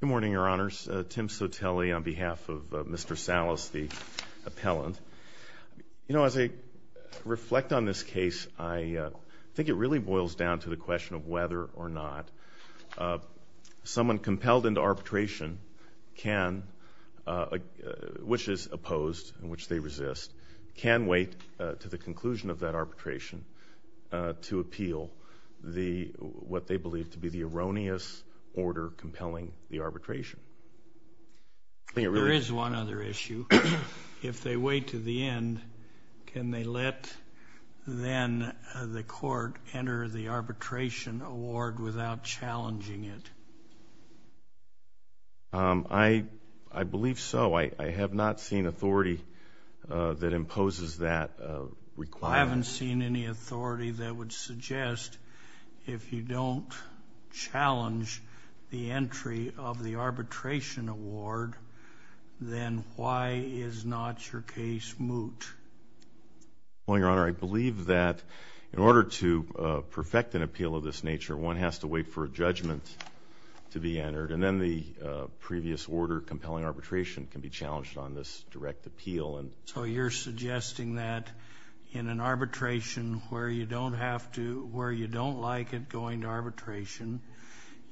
Good morning, Your Honors. Tim Sotelli on behalf of Mr. Salas, the appellant. You know, as I reflect on this case, I think it really boils down to the question of whether or not someone compelled into arbitration can, which is opposed and which they resist, can wait to the conclusion of that arbitration to appeal what they believe to be the erroneous order compelling the arbitration. There is one other issue. If they wait to the end, can they let then the court enter the arbitration award without challenging it? I believe so. I have not seen authority that imposes that requirement. I haven't seen any authority that would suggest if you don't challenge the entry of the arbitration award, then why is not your case moot? Well, Your Honor, I believe that in order to perfect an appeal of this nature, one has to wait for a judgment to be entered, and then the previous order compelling arbitration can be challenged on this direct appeal. So you're suggesting that in an arbitration where you don't like it going to arbitration,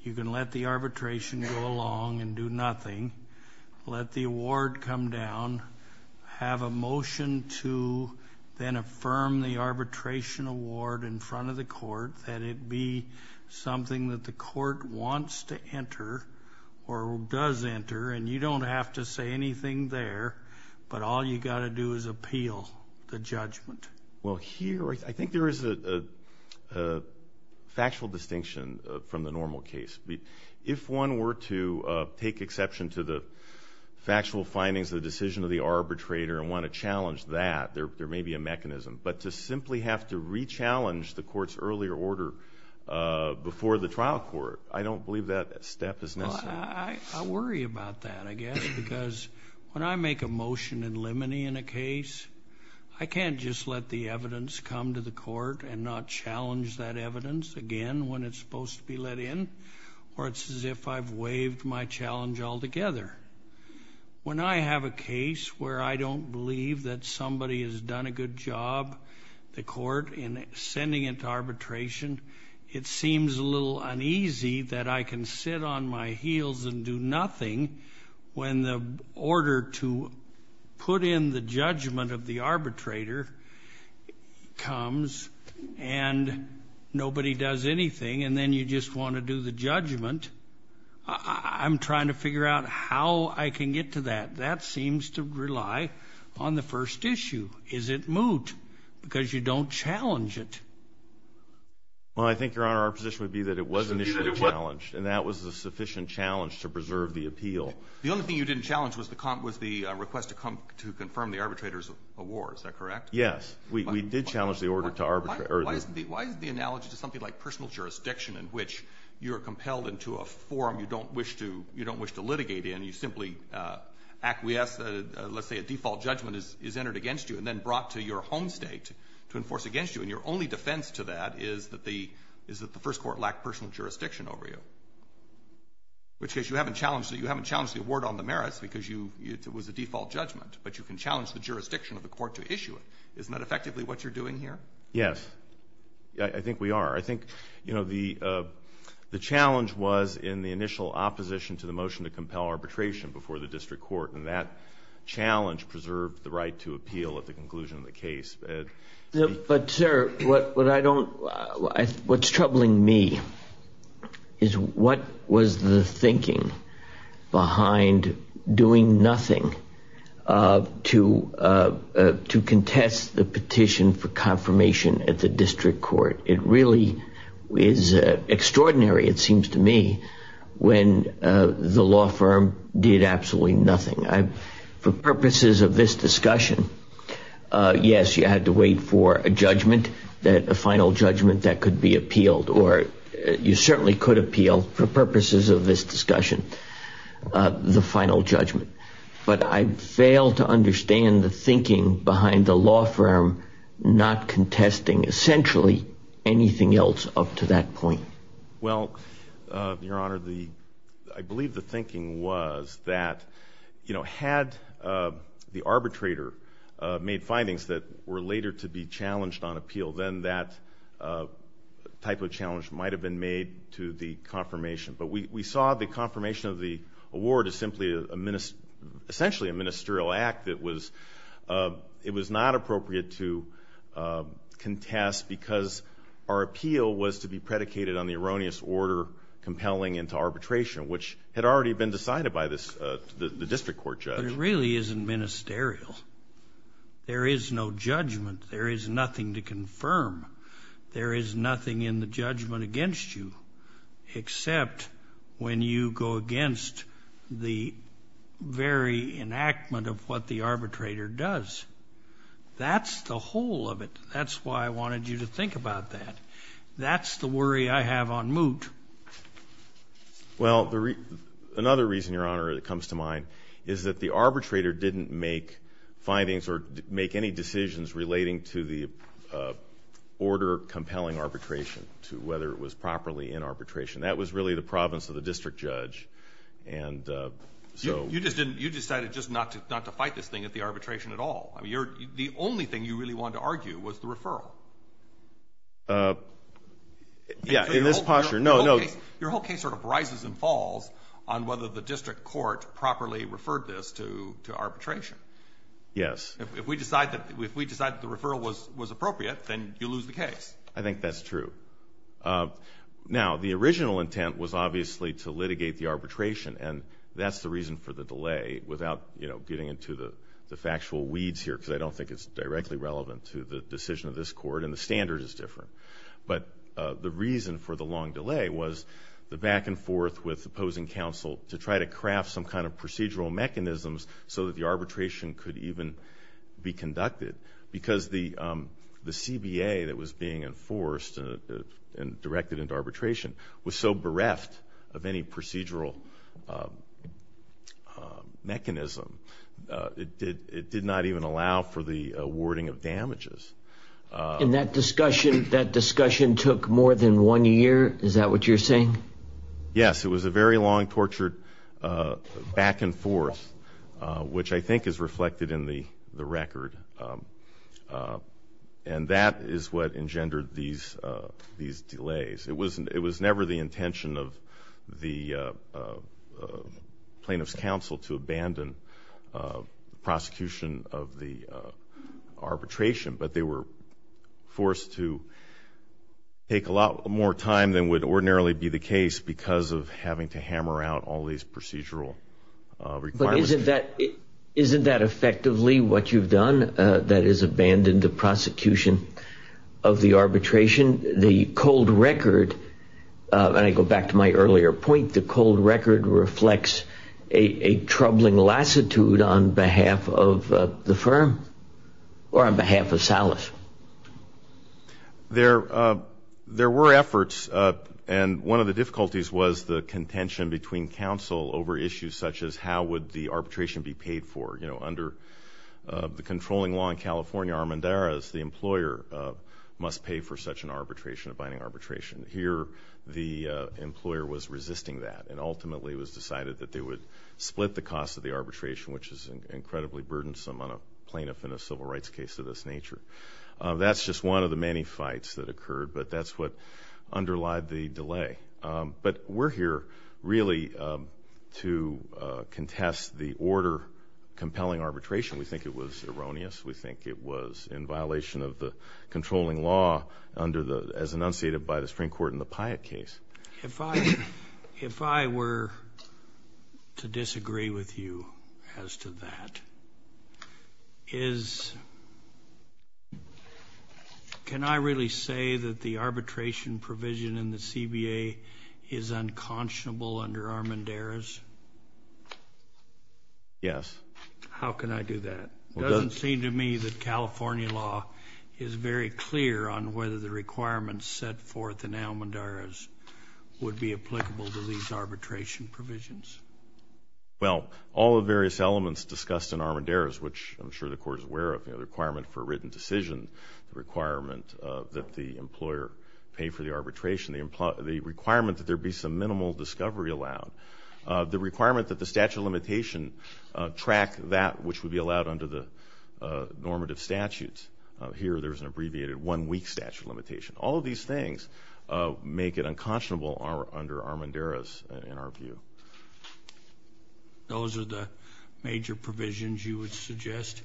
you can let the arbitration go along and do nothing, let the award come down, have a motion to then affirm the arbitration award in front of the court, that it be something that the court wants to enter or does enter, and you don't have to say anything there, but all you got to do is appeal the judgment? Well, here I think there is a factual distinction from the normal case. If one were to take exception to the factual findings of the decision of the arbitrator and want to challenge that, there may be a mechanism. But to simply have to re-challenge the court's earlier order before the trial court, I don't believe that step is necessary. Well, I worry about that, I guess, because when I make a motion in limine in a case, I can't just let the evidence come to the court and not challenge that evidence again when it's supposed to be let in, or it's as if I've waived my challenge altogether. When I have a case where I don't believe that somebody has done a good job, the court, in sending it to arbitration, it seems a little uneasy that I can sit on my heels and do nothing when the order to put in the judgment of the arbitrator comes and nobody does anything and then you just want to do the judgment. I'm trying to figure out how I can get to that. That seems to rely on the first issue. Is it moot? Because you don't challenge it. Well, I think, Your Honor, our position would be that it was initially challenged, and that was a sufficient challenge to preserve the appeal. The only thing you didn't challenge was the request to confirm the arbitrator's award. Is that correct? Yes. We did challenge the order to arbitrate. Why is the analogy to something like personal jurisdiction in which you're compelled into a forum you don't wish to litigate in? You simply acquiesce. Let's say a default judgment is entered against you and then brought to your home state to enforce against you, and your only defense to that is that the first court lacked personal jurisdiction over you, which is you haven't challenged the award on the merits because it was a default judgment, but you can challenge the jurisdiction of the court to issue it. Isn't that effectively what you're doing here? Yes. I think we are. I think, you know, the challenge was in the initial opposition to the motion to compel arbitration before the district court, and that challenge preserved the right to appeal at the conclusion of the case. But, sir, what I don't—what's troubling me is what was the thinking behind doing nothing to contest the petition for confirmation at the district court. It really is extraordinary, it seems to me, when the law firm did absolutely nothing. For purposes of this discussion, yes, you had to wait for a judgment, a final judgment that could be appealed, or you certainly could appeal, for purposes of this discussion, the final judgment. But I fail to understand the thinking behind the law firm not contesting essentially anything else up to that point. Well, Your Honor, the—I believe the thinking was that, you know, had the arbitrator made findings that were later to be challenged on appeal, then that type of challenge might have been made to the confirmation. But we saw the confirmation of the award as simply a—essentially a ministerial act that was—it was not appropriate to contest because our appeal was to be predicated on the erroneous order compelling into arbitration, which had already been decided by the district court judge. But it really isn't ministerial. There is no judgment. There is nothing to confirm. There is nothing in the judgment against you, except when you go against the very enactment of what the arbitrator does. That's the whole of it. That's why I wanted you to think about that. That's the worry I have on moot. Well, another reason, Your Honor, that comes to mind is that the arbitrator didn't make findings or make any decisions relating to the order compelling arbitration to whether it was properly in arbitration. That was really the province of the district judge. And so— You just didn't—you decided just not to fight this thing at the arbitration at all. I mean, you're—the only thing you really wanted to argue was the referral. Yeah, in this posture—no, no— Your whole case sort of rises and falls on whether the district court properly referred this to arbitration. Yes. If we decide that the referral was appropriate, then you lose the case. I think that's true. Now, the original intent was obviously to litigate the arbitration. And that's the reason for the delay, without, you know, getting into the factual weeds here, because I don't think it's directly relevant to the decision of this Court, and the standard is different. But the reason for the long delay was the back-and-forth with opposing counsel to try to craft some kind of procedural mechanisms so that the arbitration could even be conducted, because the CBA that was being enforced and directed into arbitration was so bereft of any procedural mechanism, it did not even allow for the awarding of damages. And that discussion took more than one year? Is that what you're saying? Yes. It was a very long, tortured back-and-forth, which I think is reflected in the record. And that is what engendered these delays. It was never the intention of the plaintiff's counsel to abandon prosecution of the arbitration, but they were forced to take a lot more time than would ordinarily be the case because of having to hammer out all these procedural requirements. But isn't that effectively what you've done, that is, abandon the prosecution of the arbitration? The cold record, and I go back to my earlier point, the cold record reflects a troubling lassitude on behalf of the firm, or on behalf of Salas. There were efforts, and one of the difficulties was the contention between counsel over issues such as how would the arbitration be paid for. You know, under the controlling law in California, Armendariz, the employer must pay for such an arbitration, a binding arbitration. Here the employer was resisting that, and ultimately it was decided that they would split the cost of the arbitration, which is incredibly burdensome on a plaintiff in a That's just one of the many fights that occurred, but that's what underlied the delay. But we're here really to contest the order compelling arbitration. We think it was erroneous. We think it was in violation of the controlling law as enunciated by the Supreme Court in the Pyatt case. If I were to disagree with you as to that, can I really say that the arbitration provision in the CBA is unconscionable under Armendariz? Yes. How can I do that? It doesn't seem to me that California law is very clear on whether the would be applicable to these arbitration provisions. Well, all the various elements discussed in Armendariz, which I'm sure the Court is aware of, the requirement for a written decision, the requirement that the employer pay for the arbitration, the requirement that there be some minimal discovery allowed, the requirement that the statute of limitation track that which would be allowed under the normative statutes. Here there's an abbreviated one-week statute of limitation. All of these things make it unconscionable under Armendariz, in our view. Those are the major provisions you would suggest?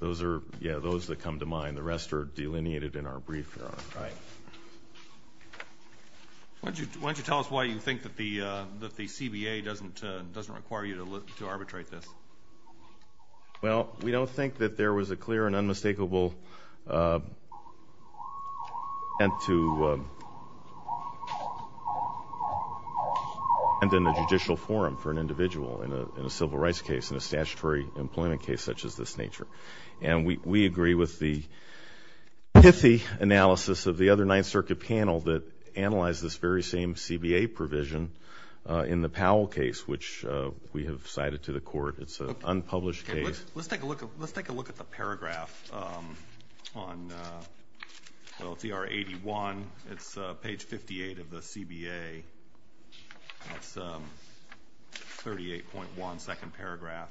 Those are, yeah, those that come to mind. The rest are delineated in our brief, Your Honor. All right. Why don't you tell us why you think that the CBA doesn't require you to arbitrate this? Well, we don't think that there was a clear and unmistakable intent to end in a judicial forum for an individual in a civil rights case, in a statutory employment case such as this nature. And we agree with the pithy analysis of the other Ninth Circuit panel that analyzed this very same CBA provision in the Powell case, which we have cited to the court. It's an unpublished case. Let's take a look at the paragraph on, well, it's ER 81. It's page 58 of the CBA. It's a 38.1-second paragraph.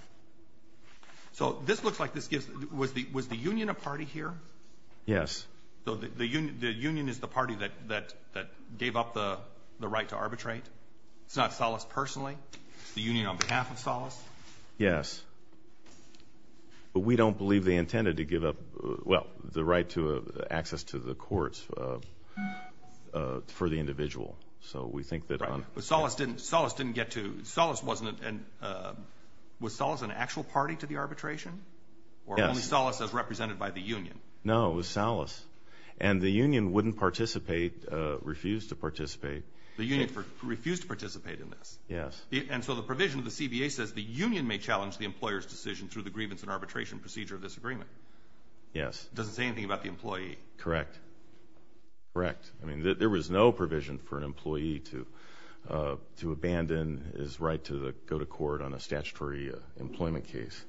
So this looks like this gives, was the union a party here? Yes. So the union is the party that gave up the right to arbitrate? It's not Salas personally? The union on behalf of Salas? Yes. But we don't believe they intended to give up, well, the right to access to the courts for the individual. So we think that on... Right. But Salas didn't get to, Salas wasn't, was Salas an actual party to the arbitration? Yes. Or only Salas as represented by the union? No, it was Salas. And the union wouldn't participate, refused to participate. The union refused to participate in this? Yes. And so the provision of the CBA says, the union may challenge the employer's decision through the grievance and arbitration procedure of this agreement? Yes. It doesn't say anything about the employee? Correct. Correct. I mean, there was no provision for an employee to abandon his right to go to court on a statutory employment case.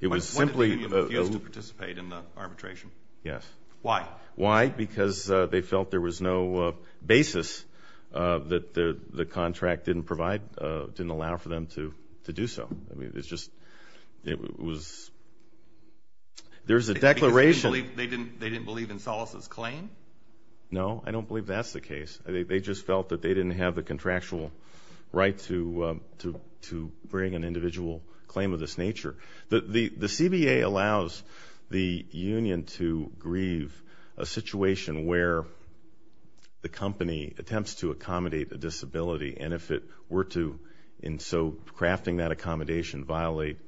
It was simply... But the union refused to participate in the arbitration? Yes. Why? Why? Because they felt there was no basis that the contract didn't provide, didn't allow for them to do so. I mean, it's just, it was, there's a declaration... Because they didn't believe in Salas's claim? No, I don't believe that's the case. They just felt that they didn't have the contractual right to bring an individual claim of this nature. The CBA allows the union to grieve a situation where the company attempts to accommodate a disability, and if it were to, in so crafting that accommodation, violate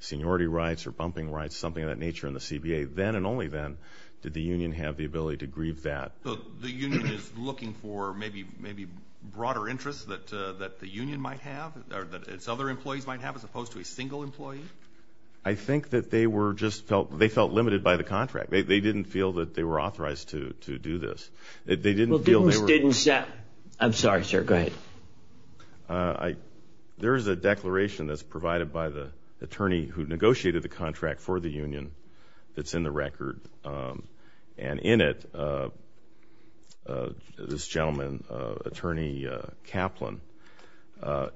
seniority rights or bumping rights, something of that nature in the CBA, then and only then did the union have the ability to grieve that. So the union is looking for maybe broader interests that the union might have, or that its other employees might have, as opposed to a single employee? I think that they were just felt, they felt limited by the contract. They didn't feel that they were authorized to do this. They didn't feel they were... Well, didn't, didn't... I'm sorry, sir. Go ahead. There is a declaration that's provided by the attorney who negotiated the contract for the union that's in the record. And in it, this gentleman, Attorney Kaplan,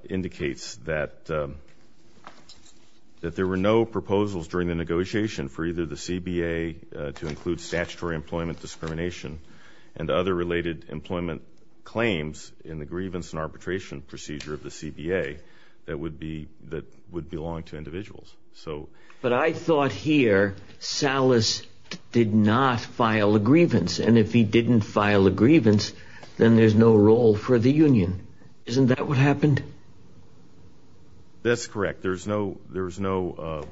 indicates that there were no proposals during the negotiation for either the CBA to include statutory employment discrimination and other related employment claims in the grievance and arbitration procedure of the CBA that would be, that would belong to individuals. So... But here, Salas did not file a grievance. And if he didn't file a grievance, then there's no role for the union. Isn't that what happened? That's correct. There's no, there's no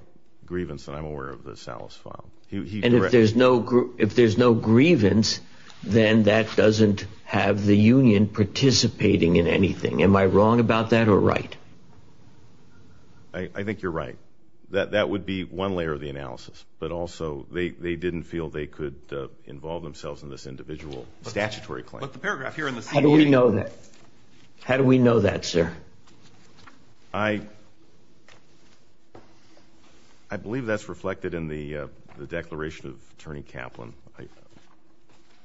grievance that I'm aware of that Salas filed. He... And if there's no, if there's no grievance, then that doesn't have the union participating in anything. Am I wrong about that or right? I think you're right. That, that would be one layer of the analysis, but also they, they didn't feel they could involve themselves in this individual statutory claim. But the paragraph here in the CBA... How do we know that? How do we know that, sir? I, I believe that's reflected in the, the declaration of Attorney Kaplan.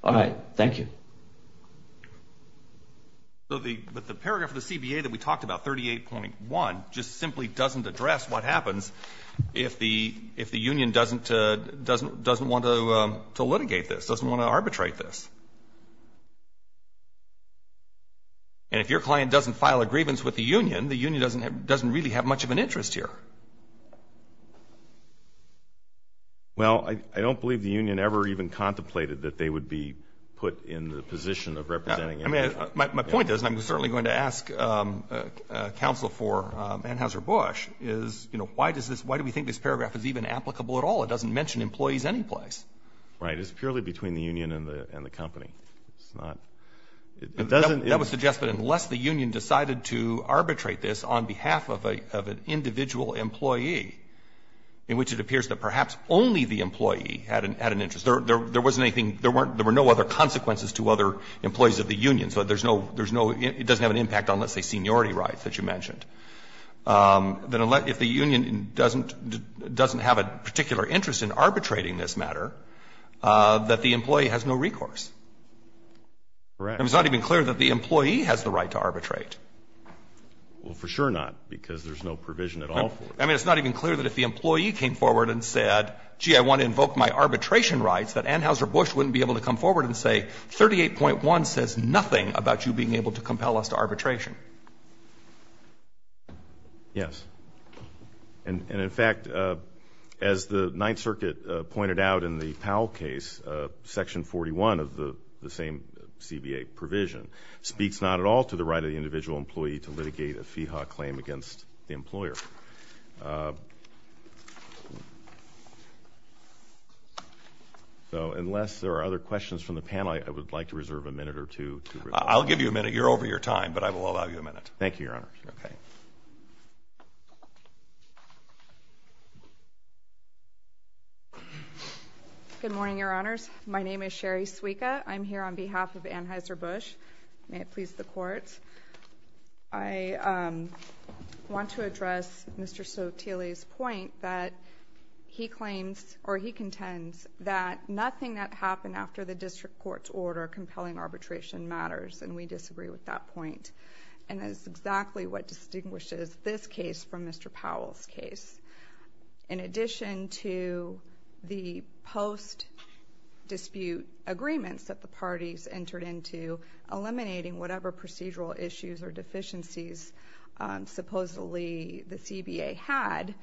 All right. Thank you. So the, but the paragraph of the CBA that we talked about, 38.1, just simply doesn't address what happens if the, if the union doesn't, doesn't, doesn't want to, to litigate this, doesn't want to arbitrate this. And if your client doesn't file a grievance with the union, the union doesn't have, doesn't really have much of an interest here. Well, I, I don't believe the union ever even contemplated that they would be put in the position of representing anything. I mean, my, my point is, and I'm certainly going to ask counsel for Anheuser-Busch, is, you know, why does this, why do we think this paragraph is even applicable at all? It doesn't mention employees anyplace. Right. It's purely between the union and the, and the company. It's not, it doesn't... That would suggest that unless the union decided to arbitrate this on behalf of a, of an individual employee, in which it appears that perhaps only the employee had an, had an interest, there, there wasn't anything, there weren't, there were no other consequences to other employees of the union. So there's no, there's no, it doesn't have an impact on, let's say, seniority rights that you mentioned. Then unless, if the union doesn't, doesn't have a particular interest in arbitrating this matter, that the employee has no recourse. Correct. And it's not even clear that the employee has the right to arbitrate. Well, for sure not, because there's no provision at all for it. I mean, it's not even clear that if the employee came forward and said, gee, I want to invoke my arbitration rights, that Anheuser-Busch wouldn't be able to come forward and say, 38.1 says nothing about you being able to compel us to arbitration. Yes. And, and in fact, as the Ninth Circuit pointed out in the Powell case, Section 41 of the, the same CBA provision, speaks not at all to the right of the individual employee to litigate a fee hawk claim against the employer. So unless there are other questions from the panel, I would like to reserve a minute or two. I'll give you a minute. You're over your time, but I will allow you a minute. Thank you, Your Honors. Okay. Good morning, Your Honors. My name is Sherry Suica. I'm here on behalf of Anheuser-Busch. May it please the Court, I want to address Mr. Soteli's point that he claims, or he contends, that nothing that happened after the district court's order compelling arbitration matters, and we disagree with that point. And that's exactly what distinguishes this case from Mr. Powell's case. In addition to the post-dispute agreements that the parties entered into eliminating whatever procedural issues or deficiencies supposedly the CBA had,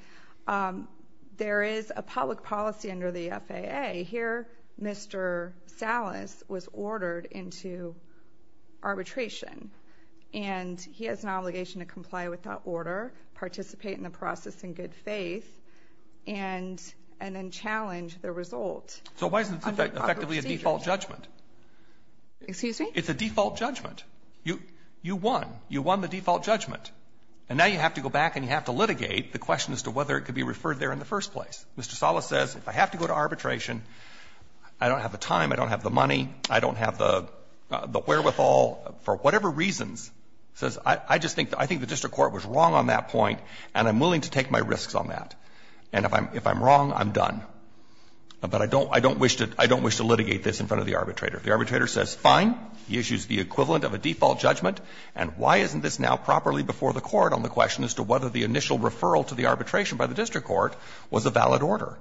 there is a public policy under the FAA. Here, Mr. Salas was ordered into arbitration, and he has an obligation to comply with that and then challenge the result. So why is this effectively a default judgment? Excuse me? It's a default judgment. You won. You won the default judgment. And now you have to go back and you have to litigate the question as to whether it could be referred there in the first place. Mr. Salas says, if I have to go to arbitration, I don't have the time, I don't have the money, I don't have the wherewithal, for whatever reasons, says, I just think the district court was wrong on that point, and I'm willing to take my risks on that. And if I'm wrong, I'm done. But I don't wish to litigate this in front of the arbitrator. The arbitrator says, fine. He issues the equivalent of a default judgment. And why isn't this now properly before the court on the question as to whether the initial referral to the arbitration by the district court was a valid order?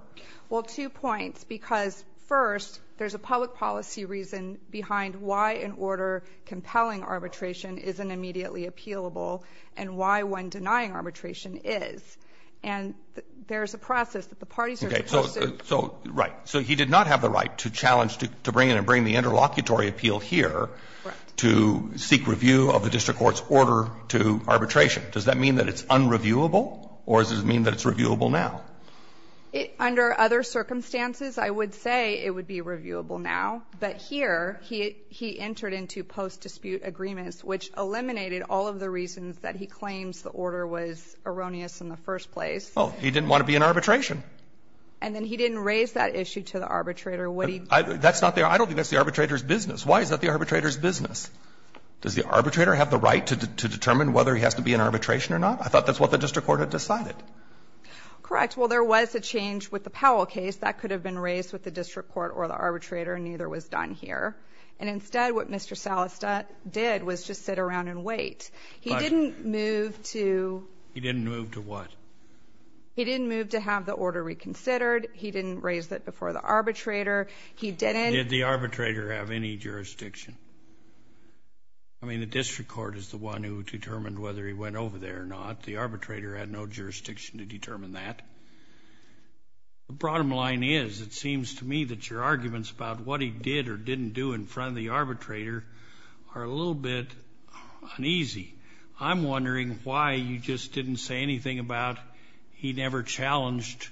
Well, two points. Because, first, there's a public policy reason behind why an order compelling arbitration isn't immediately appealable and why one denying arbitration is. And there's a process that the parties are supposed to do. Roberts. So, right. So he did not have the right to challenge to bring in and bring the interlocutory appeal here to seek review of the district court's order to arbitration. Does that mean that it's unreviewable, or does it mean that it's reviewable Under other circumstances, I would say it would be reviewable now. But here, he entered into post-dispute agreements, which eliminated all of the reasons that he claims the order was erroneous in the first place. Well, he didn't want to be in arbitration. And then he didn't raise that issue to the arbitrator. Would he? I don't think that's the arbitrator's business. Why is that the arbitrator's business? Does the arbitrator have the right to determine whether he has to be in arbitration or not? I thought that's what the district court had decided. Correct. Well, there was a change with the Powell case. That could have been raised with the district court or the arbitrator, and neither was done here. And instead, what Mr. Salastat did was just sit around and wait. He didn't move to — He didn't move to what? He didn't move to have the order reconsidered. He didn't raise that before the arbitrator. He didn't — Did the arbitrator have any jurisdiction? I mean, the district court is the one who determined whether he went over there or not. The arbitrator had no jurisdiction to determine that. The bottom line is, it seems to me that your arguments about what he did or didn't do in front of the arbitrator are a little bit uneasy. I'm wondering why you just didn't say anything about he never challenged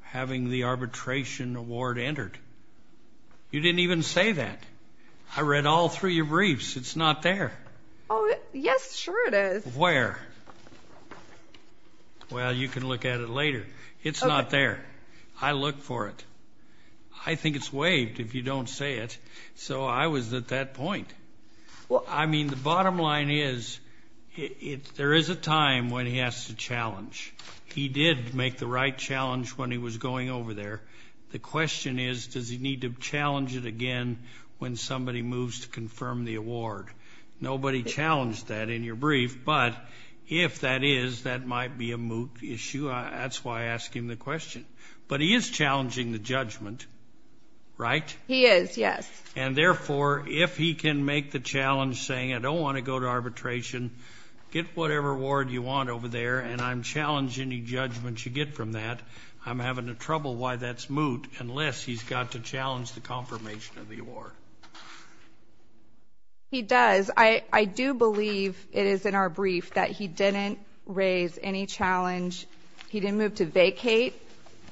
having the arbitration award entered. You didn't even say that. I read all three of your briefs. It's not there. Oh, yes, sure it is. Where? Well, you can look at it later. It's not there. I looked for it. I think it's waived if you don't say it. So I was at that point. I mean, the bottom line is, there is a time when he has to challenge. He did make the right challenge when he was going over there. The question is, does he need to challenge it again when somebody moves to confirm the award? Nobody challenged that in your brief, but if that is, that might be a moot issue. That's why I asked him the question. But he is challenging the judgment, right? He is, yes. And, therefore, if he can make the challenge saying, I don't want to go to arbitration, get whatever award you want over there, and I'm challenging the judgment you get from that, I'm having trouble why that's moot unless he's got to challenge the confirmation of the award. He does. I do believe it is in our brief that he didn't raise any challenge. He didn't move to vacate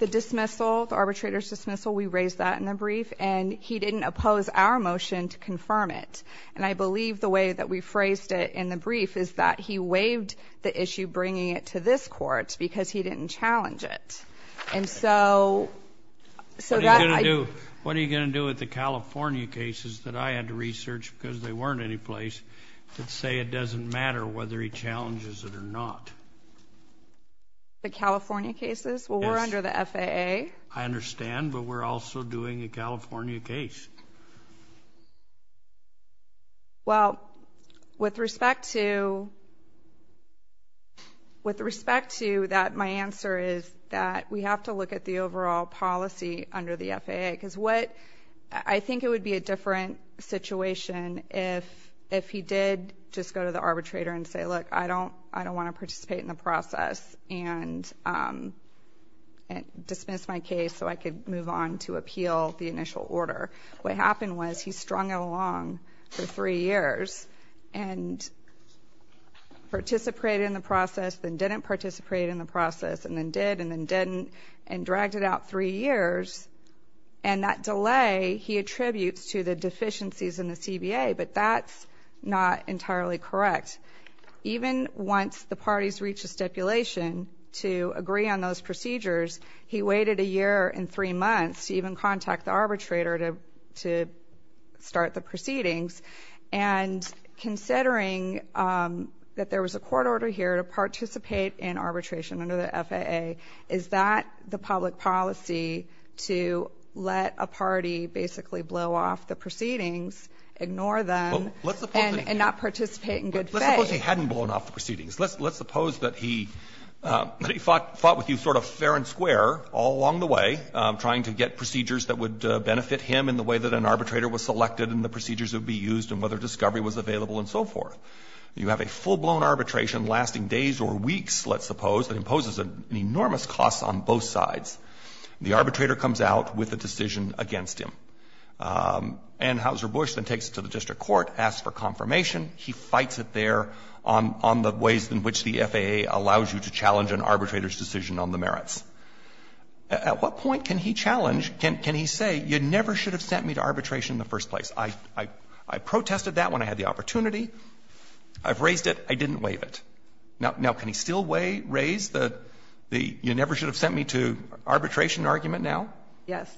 the dismissal, the arbitrator's dismissal. We raised that in the brief. And he didn't oppose our motion to confirm it. And I believe the way that we phrased it in the brief is that he waived the issue bringing it to this court because he didn't challenge it. And so that I do. What are you going to do with the California cases that I had to research because they weren't any place that say it doesn't matter whether he challenges it or not? The California cases? Well, we're under the FAA. I understand, but we're also doing a California case. Well, with respect to that, my answer is that we have to look at the overall policy under the FAA because I think it would be a different situation if he did just go to the arbitrator and say, look, I don't want to participate in the process and dismiss my case so I could move on to appeal the initial order. What happened was he strung it along for three years and participated in the process then didn't participate in the process and then did and then didn't and dragged it out three years. And that delay he attributes to the deficiencies in the CBA, but that's not entirely correct. Even once the parties reach a stipulation to agree on those procedures, he waited a year and three months to even contact the arbitrator to start the proceedings. And considering that there was a court order here to participate in arbitration under the FAA, is that the public policy to let a party basically blow off the proceedings, ignore them, and not participate in good faith? Let's suppose he hadn't blown off the proceedings. Let's suppose that he fought with you sort of fair and square all along the way, trying to get procedures that would benefit him in the way that an arbitrator was selected and the procedures that would be used and whether discovery was available and so forth. You have a full-blown arbitration lasting days or weeks, let's suppose, that imposes an enormous cost on both sides. The arbitrator comes out with a decision against him. And Houser Bush then takes it to the district court, asks for confirmation. He fights it there on the ways in which the FAA allows you to challenge an arbitrator's decision on the merits. At what point can he challenge, can he say, you never should have sent me to arbitration in the first place? I protested that when I had the opportunity. I've raised it. I didn't waive it. Now, can he still raise the you never should have sent me to arbitration argument now? Yes.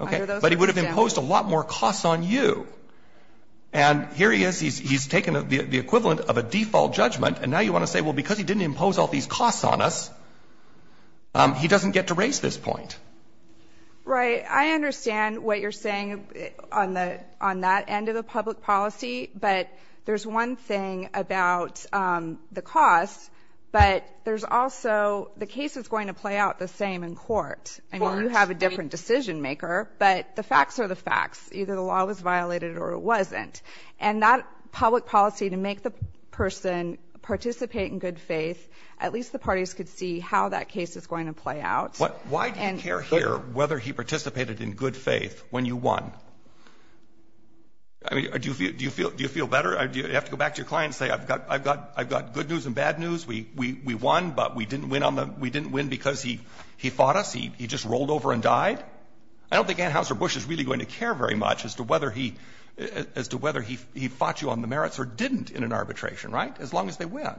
Okay. But he would have imposed a lot more costs on you. And here he is. He's taken the equivalent of a default judgment. And now you want to say, well, because he didn't impose all these costs on us, he doesn't get to raise this point. Right. I understand what you're saying on that end of the public policy. But there's one thing about the costs. But there's also the case is going to play out the same in court. I mean, you have a different decisionmaker. But the facts are the facts. Either the law was violated or it wasn't. And that public policy to make the person participate in good faith, at least the parties could see how that case is going to play out. Why do you care here whether he participated in good faith when you won? I mean, do you feel better? Do you have to go back to your client and say, I've got good news and bad news. We won, but we didn't win because he fought us. He just rolled over and died. Right. I don't think Anheuser-Busch is really going to care very much as to whether he fought you on the merits or didn't in an arbitration, right, as long as they win.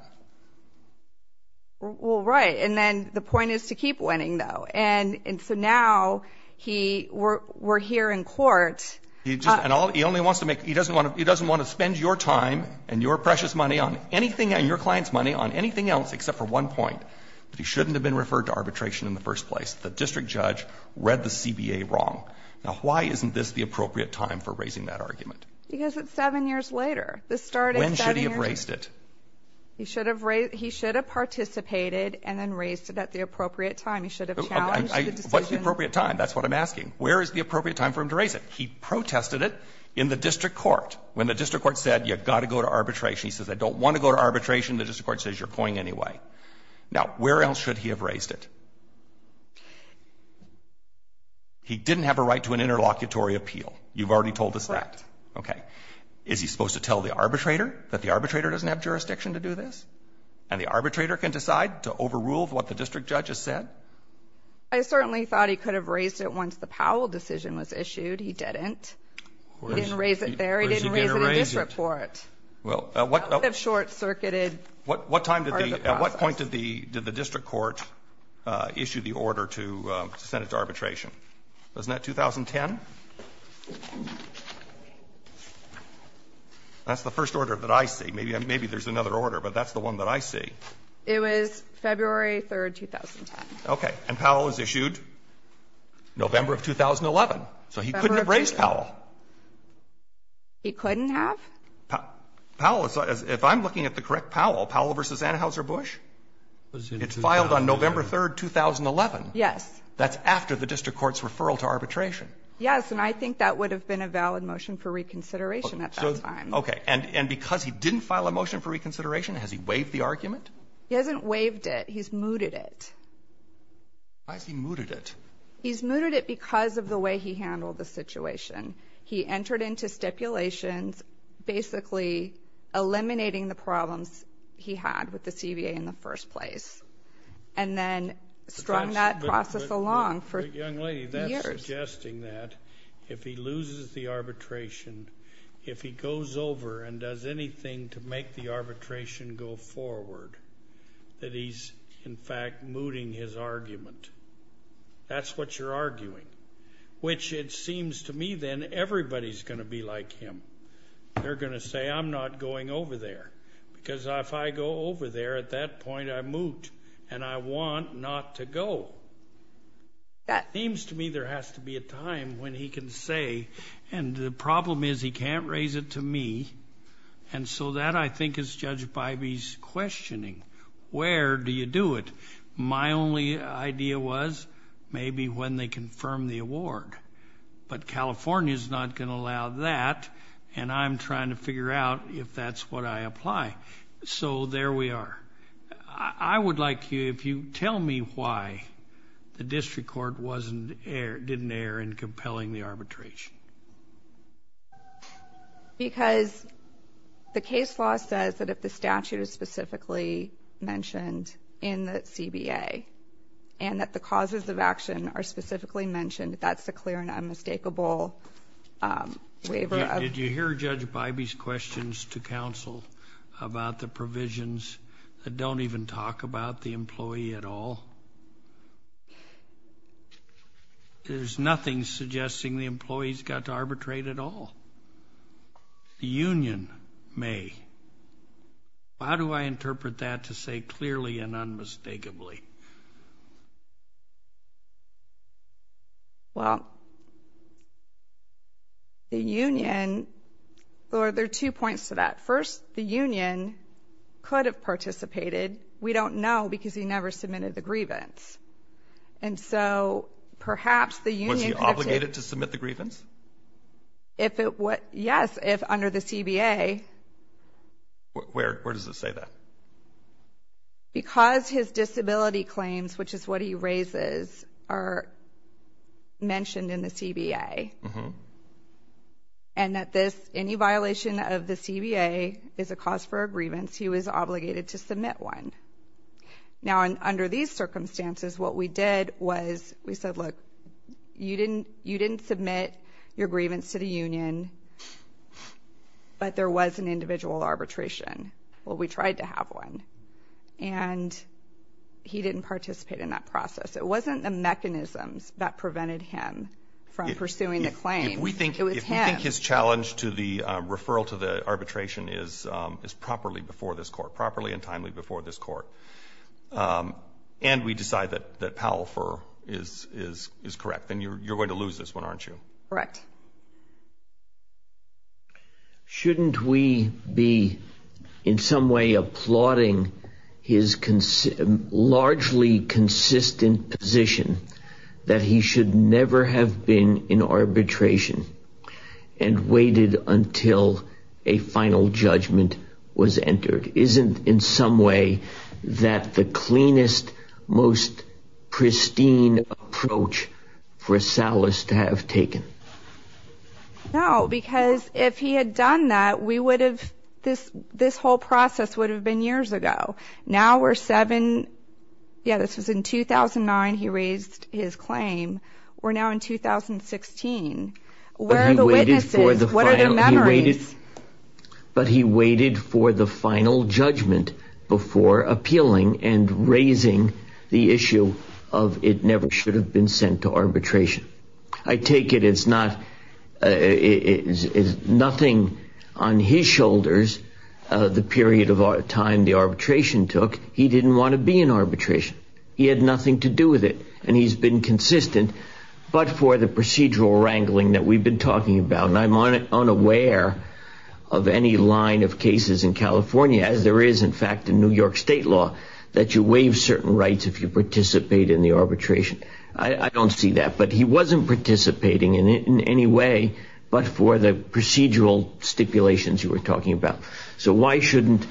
Well, right. And then the point is to keep winning, though. And so now we're here in court. He only wants to make he doesn't want to spend your time and your precious money on anything and your client's money on anything else except for one point, that he shouldn't have been referred to arbitration in the first place. The district judge read the CBA wrong. Now, why isn't this the appropriate time for raising that argument? Because it's seven years later. When should he have raised it? He should have participated and then raised it at the appropriate time. He should have challenged the decision. What's the appropriate time? That's what I'm asking. Where is the appropriate time for him to raise it? He protested it in the district court. When the district court said, you've got to go to arbitration, he says, I don't want to go to arbitration. The district court says, you're going anyway. Now, where else should he have raised it? He didn't have a right to an interlocutory appeal. You've already told us that. Correct. Okay. Is he supposed to tell the arbitrator that the arbitrator doesn't have jurisdiction to do this? And the arbitrator can decide to overrule what the district judge has said? I certainly thought he could have raised it once the Powell decision was issued. He didn't. He didn't raise it there. He didn't raise it in the district court. Well, at what point did the district court issue the order to send it to arbitration? Wasn't that 2010? That's the first order that I see. Maybe there's another order, but that's the one that I see. It was February 3, 2010. Okay. And Powell was issued November of 2011. So he couldn't have raised Powell. He couldn't have? If I'm looking at the correct Powell, Powell v. Anheuser-Busch? It filed on November 3, 2011. Yes. That's after the district court's referral to arbitration. Yes, and I think that would have been a valid motion for reconsideration at that time. Okay. And because he didn't file a motion for reconsideration, has he waived the argument? He hasn't waived it. He's mooted it. Why has he mooted it? He's mooted it because of the way he handled the situation. He entered into stipulations basically eliminating the problems he had with the CBA in the first place and then strung that process along for years. Young lady, that's suggesting that if he loses the arbitration, if he goes over and does anything to make the arbitration go forward, that he's, in fact, mooting his argument. That's what you're arguing. Which it seems to me then everybody's going to be like him. They're going to say, I'm not going over there. Because if I go over there, at that point I moot and I want not to go. It seems to me there has to be a time when he can say, and the problem is he can't raise it to me, and so that I think is Judge Bybee's questioning. Where do you do it? My only idea was maybe when they confirm the award. But California's not going to allow that, and I'm trying to figure out if that's what I apply. So there we are. I would like you, if you tell me why the district court didn't err in compelling the arbitration. Because the case law says that if the statute is specifically mentioned in the CBA and that the causes of action are specifically mentioned, that's a clear and unmistakable waiver. Did you hear Judge Bybee's questions to counsel about the provisions that don't even talk about the employee at all? No. There's nothing suggesting the employees got to arbitrate at all. The union may. How do I interpret that to say clearly and unmistakably? Well, the union, there are two points to that. First, the union could have participated. We don't know because he never submitted the grievance. Was he obligated to submit the grievance? Yes, if under the CBA. Where does it say that? Because his disability claims, which is what he raises, are mentioned in the CBA. And that this, any violation of the CBA is a cause for a grievance. He was obligated to submit one. Now, under these circumstances, what we did was we said, look, you didn't submit your grievance to the union, but there was an individual arbitration. Well, we tried to have one, and he didn't participate in that process. It wasn't the mechanisms that prevented him from pursuing the claim. It was him. If we think his challenge to the referral to the arbitration is properly before this court, properly and timely before this court, and we decide that Powell-Furr is correct, then you're going to lose this one, aren't you? Correct. Shouldn't we be in some way applauding his largely consistent position that he should never have been in arbitration and waited until a final judgment was entered? Isn't in some way that the cleanest, most pristine approach for Salas to have taken? No, because if he had done that, we would have, this whole process would have been years ago. Now we're seven, yeah, this was in 2009 he raised his claim. We're now in 2016. Where are the witnesses? What are their memories? But he waited for the final judgment before appealing and raising the issue of it never should have been sent to arbitration. I take it it's nothing on his shoulders, the period of time the arbitration took. He didn't want to be in arbitration. He had nothing to do with it, and he's been consistent, but for the procedural wrangling that we've been talking about, and I'm unaware of any line of cases in California, as there is, in fact, in New York state law, that you waive certain rights if you participate in the arbitration. I don't see that, but he wasn't participating in it in any way, but for the procedural stipulations you were talking about. So why shouldn't,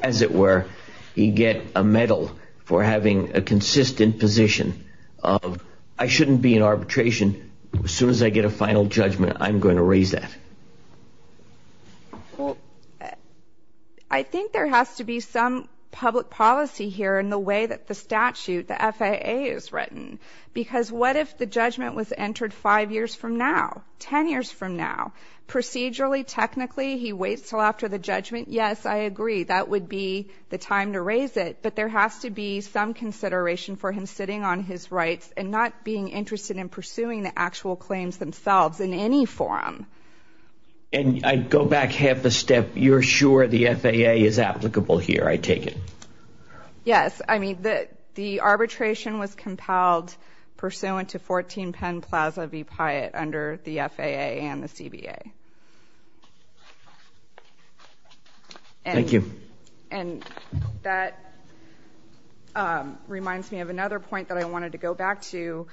as it were, he get a medal for having a consistent position of, I shouldn't be in arbitration. As soon as I get a final judgment, I'm going to raise that. Well, I think there has to be some public policy here in the way that the statute, the FAA, is written, because what if the judgment was entered five years from now, ten years from now? Procedurally, technically, he waits until after the judgment. Yes, I agree, that would be the time to raise it, but there has to be some consideration for him sitting on his rights and not being interested in pursuing the actual claims themselves in any forum. And I'd go back half a step. You're sure the FAA is applicable here, I take it? Yes, I mean, the arbitration was compelled pursuant to 14 Penn Plaza v. Pyatt under the FAA and the CBA. Thank you. And that reminds me of another point that I wanted to go back to,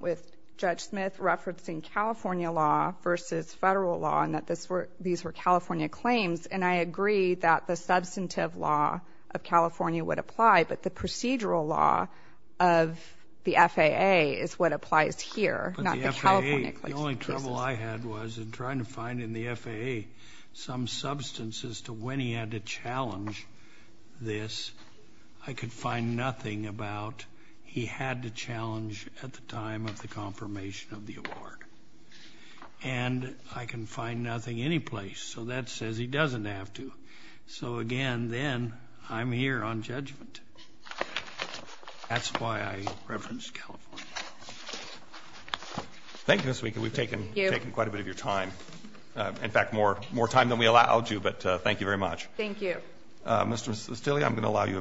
with Judge Smith referencing California law versus Federal law, and that these were California claims, and I agree that the substantive law of California would apply, but the procedural law of the FAA is what applies here, not the California claims. But the FAA, the only trouble I had was in trying to find in the FAA some substance as to when he had to challenge this, I could find nothing about he had to challenge at the time of the confirmation of the award. And I can find nothing anyplace. So that says he doesn't have to. So, again, then I'm here on judgment. That's why I referenced California. Thank you, Ms. Wieck, and we've taken quite a bit of your time. In fact, more time than we allowed you, but thank you very much. Thank you. Thank you.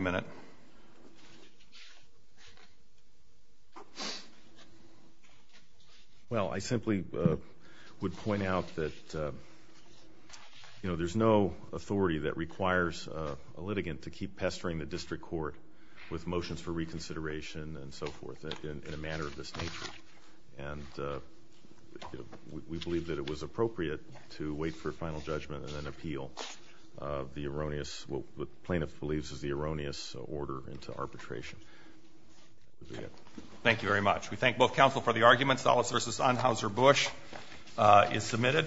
Well, I simply would point out that, you know, there's no authority that requires a litigant to keep pestering the district court with motions for reconsideration and so forth in a manner of this nature. And we believe that it was appropriate to wait for final judgment and an appeal of what the plaintiff believes is the erroneous order into arbitration. Thank you very much. We thank both counsel for the argument. Solace v. Unhauser-Busch is submitted.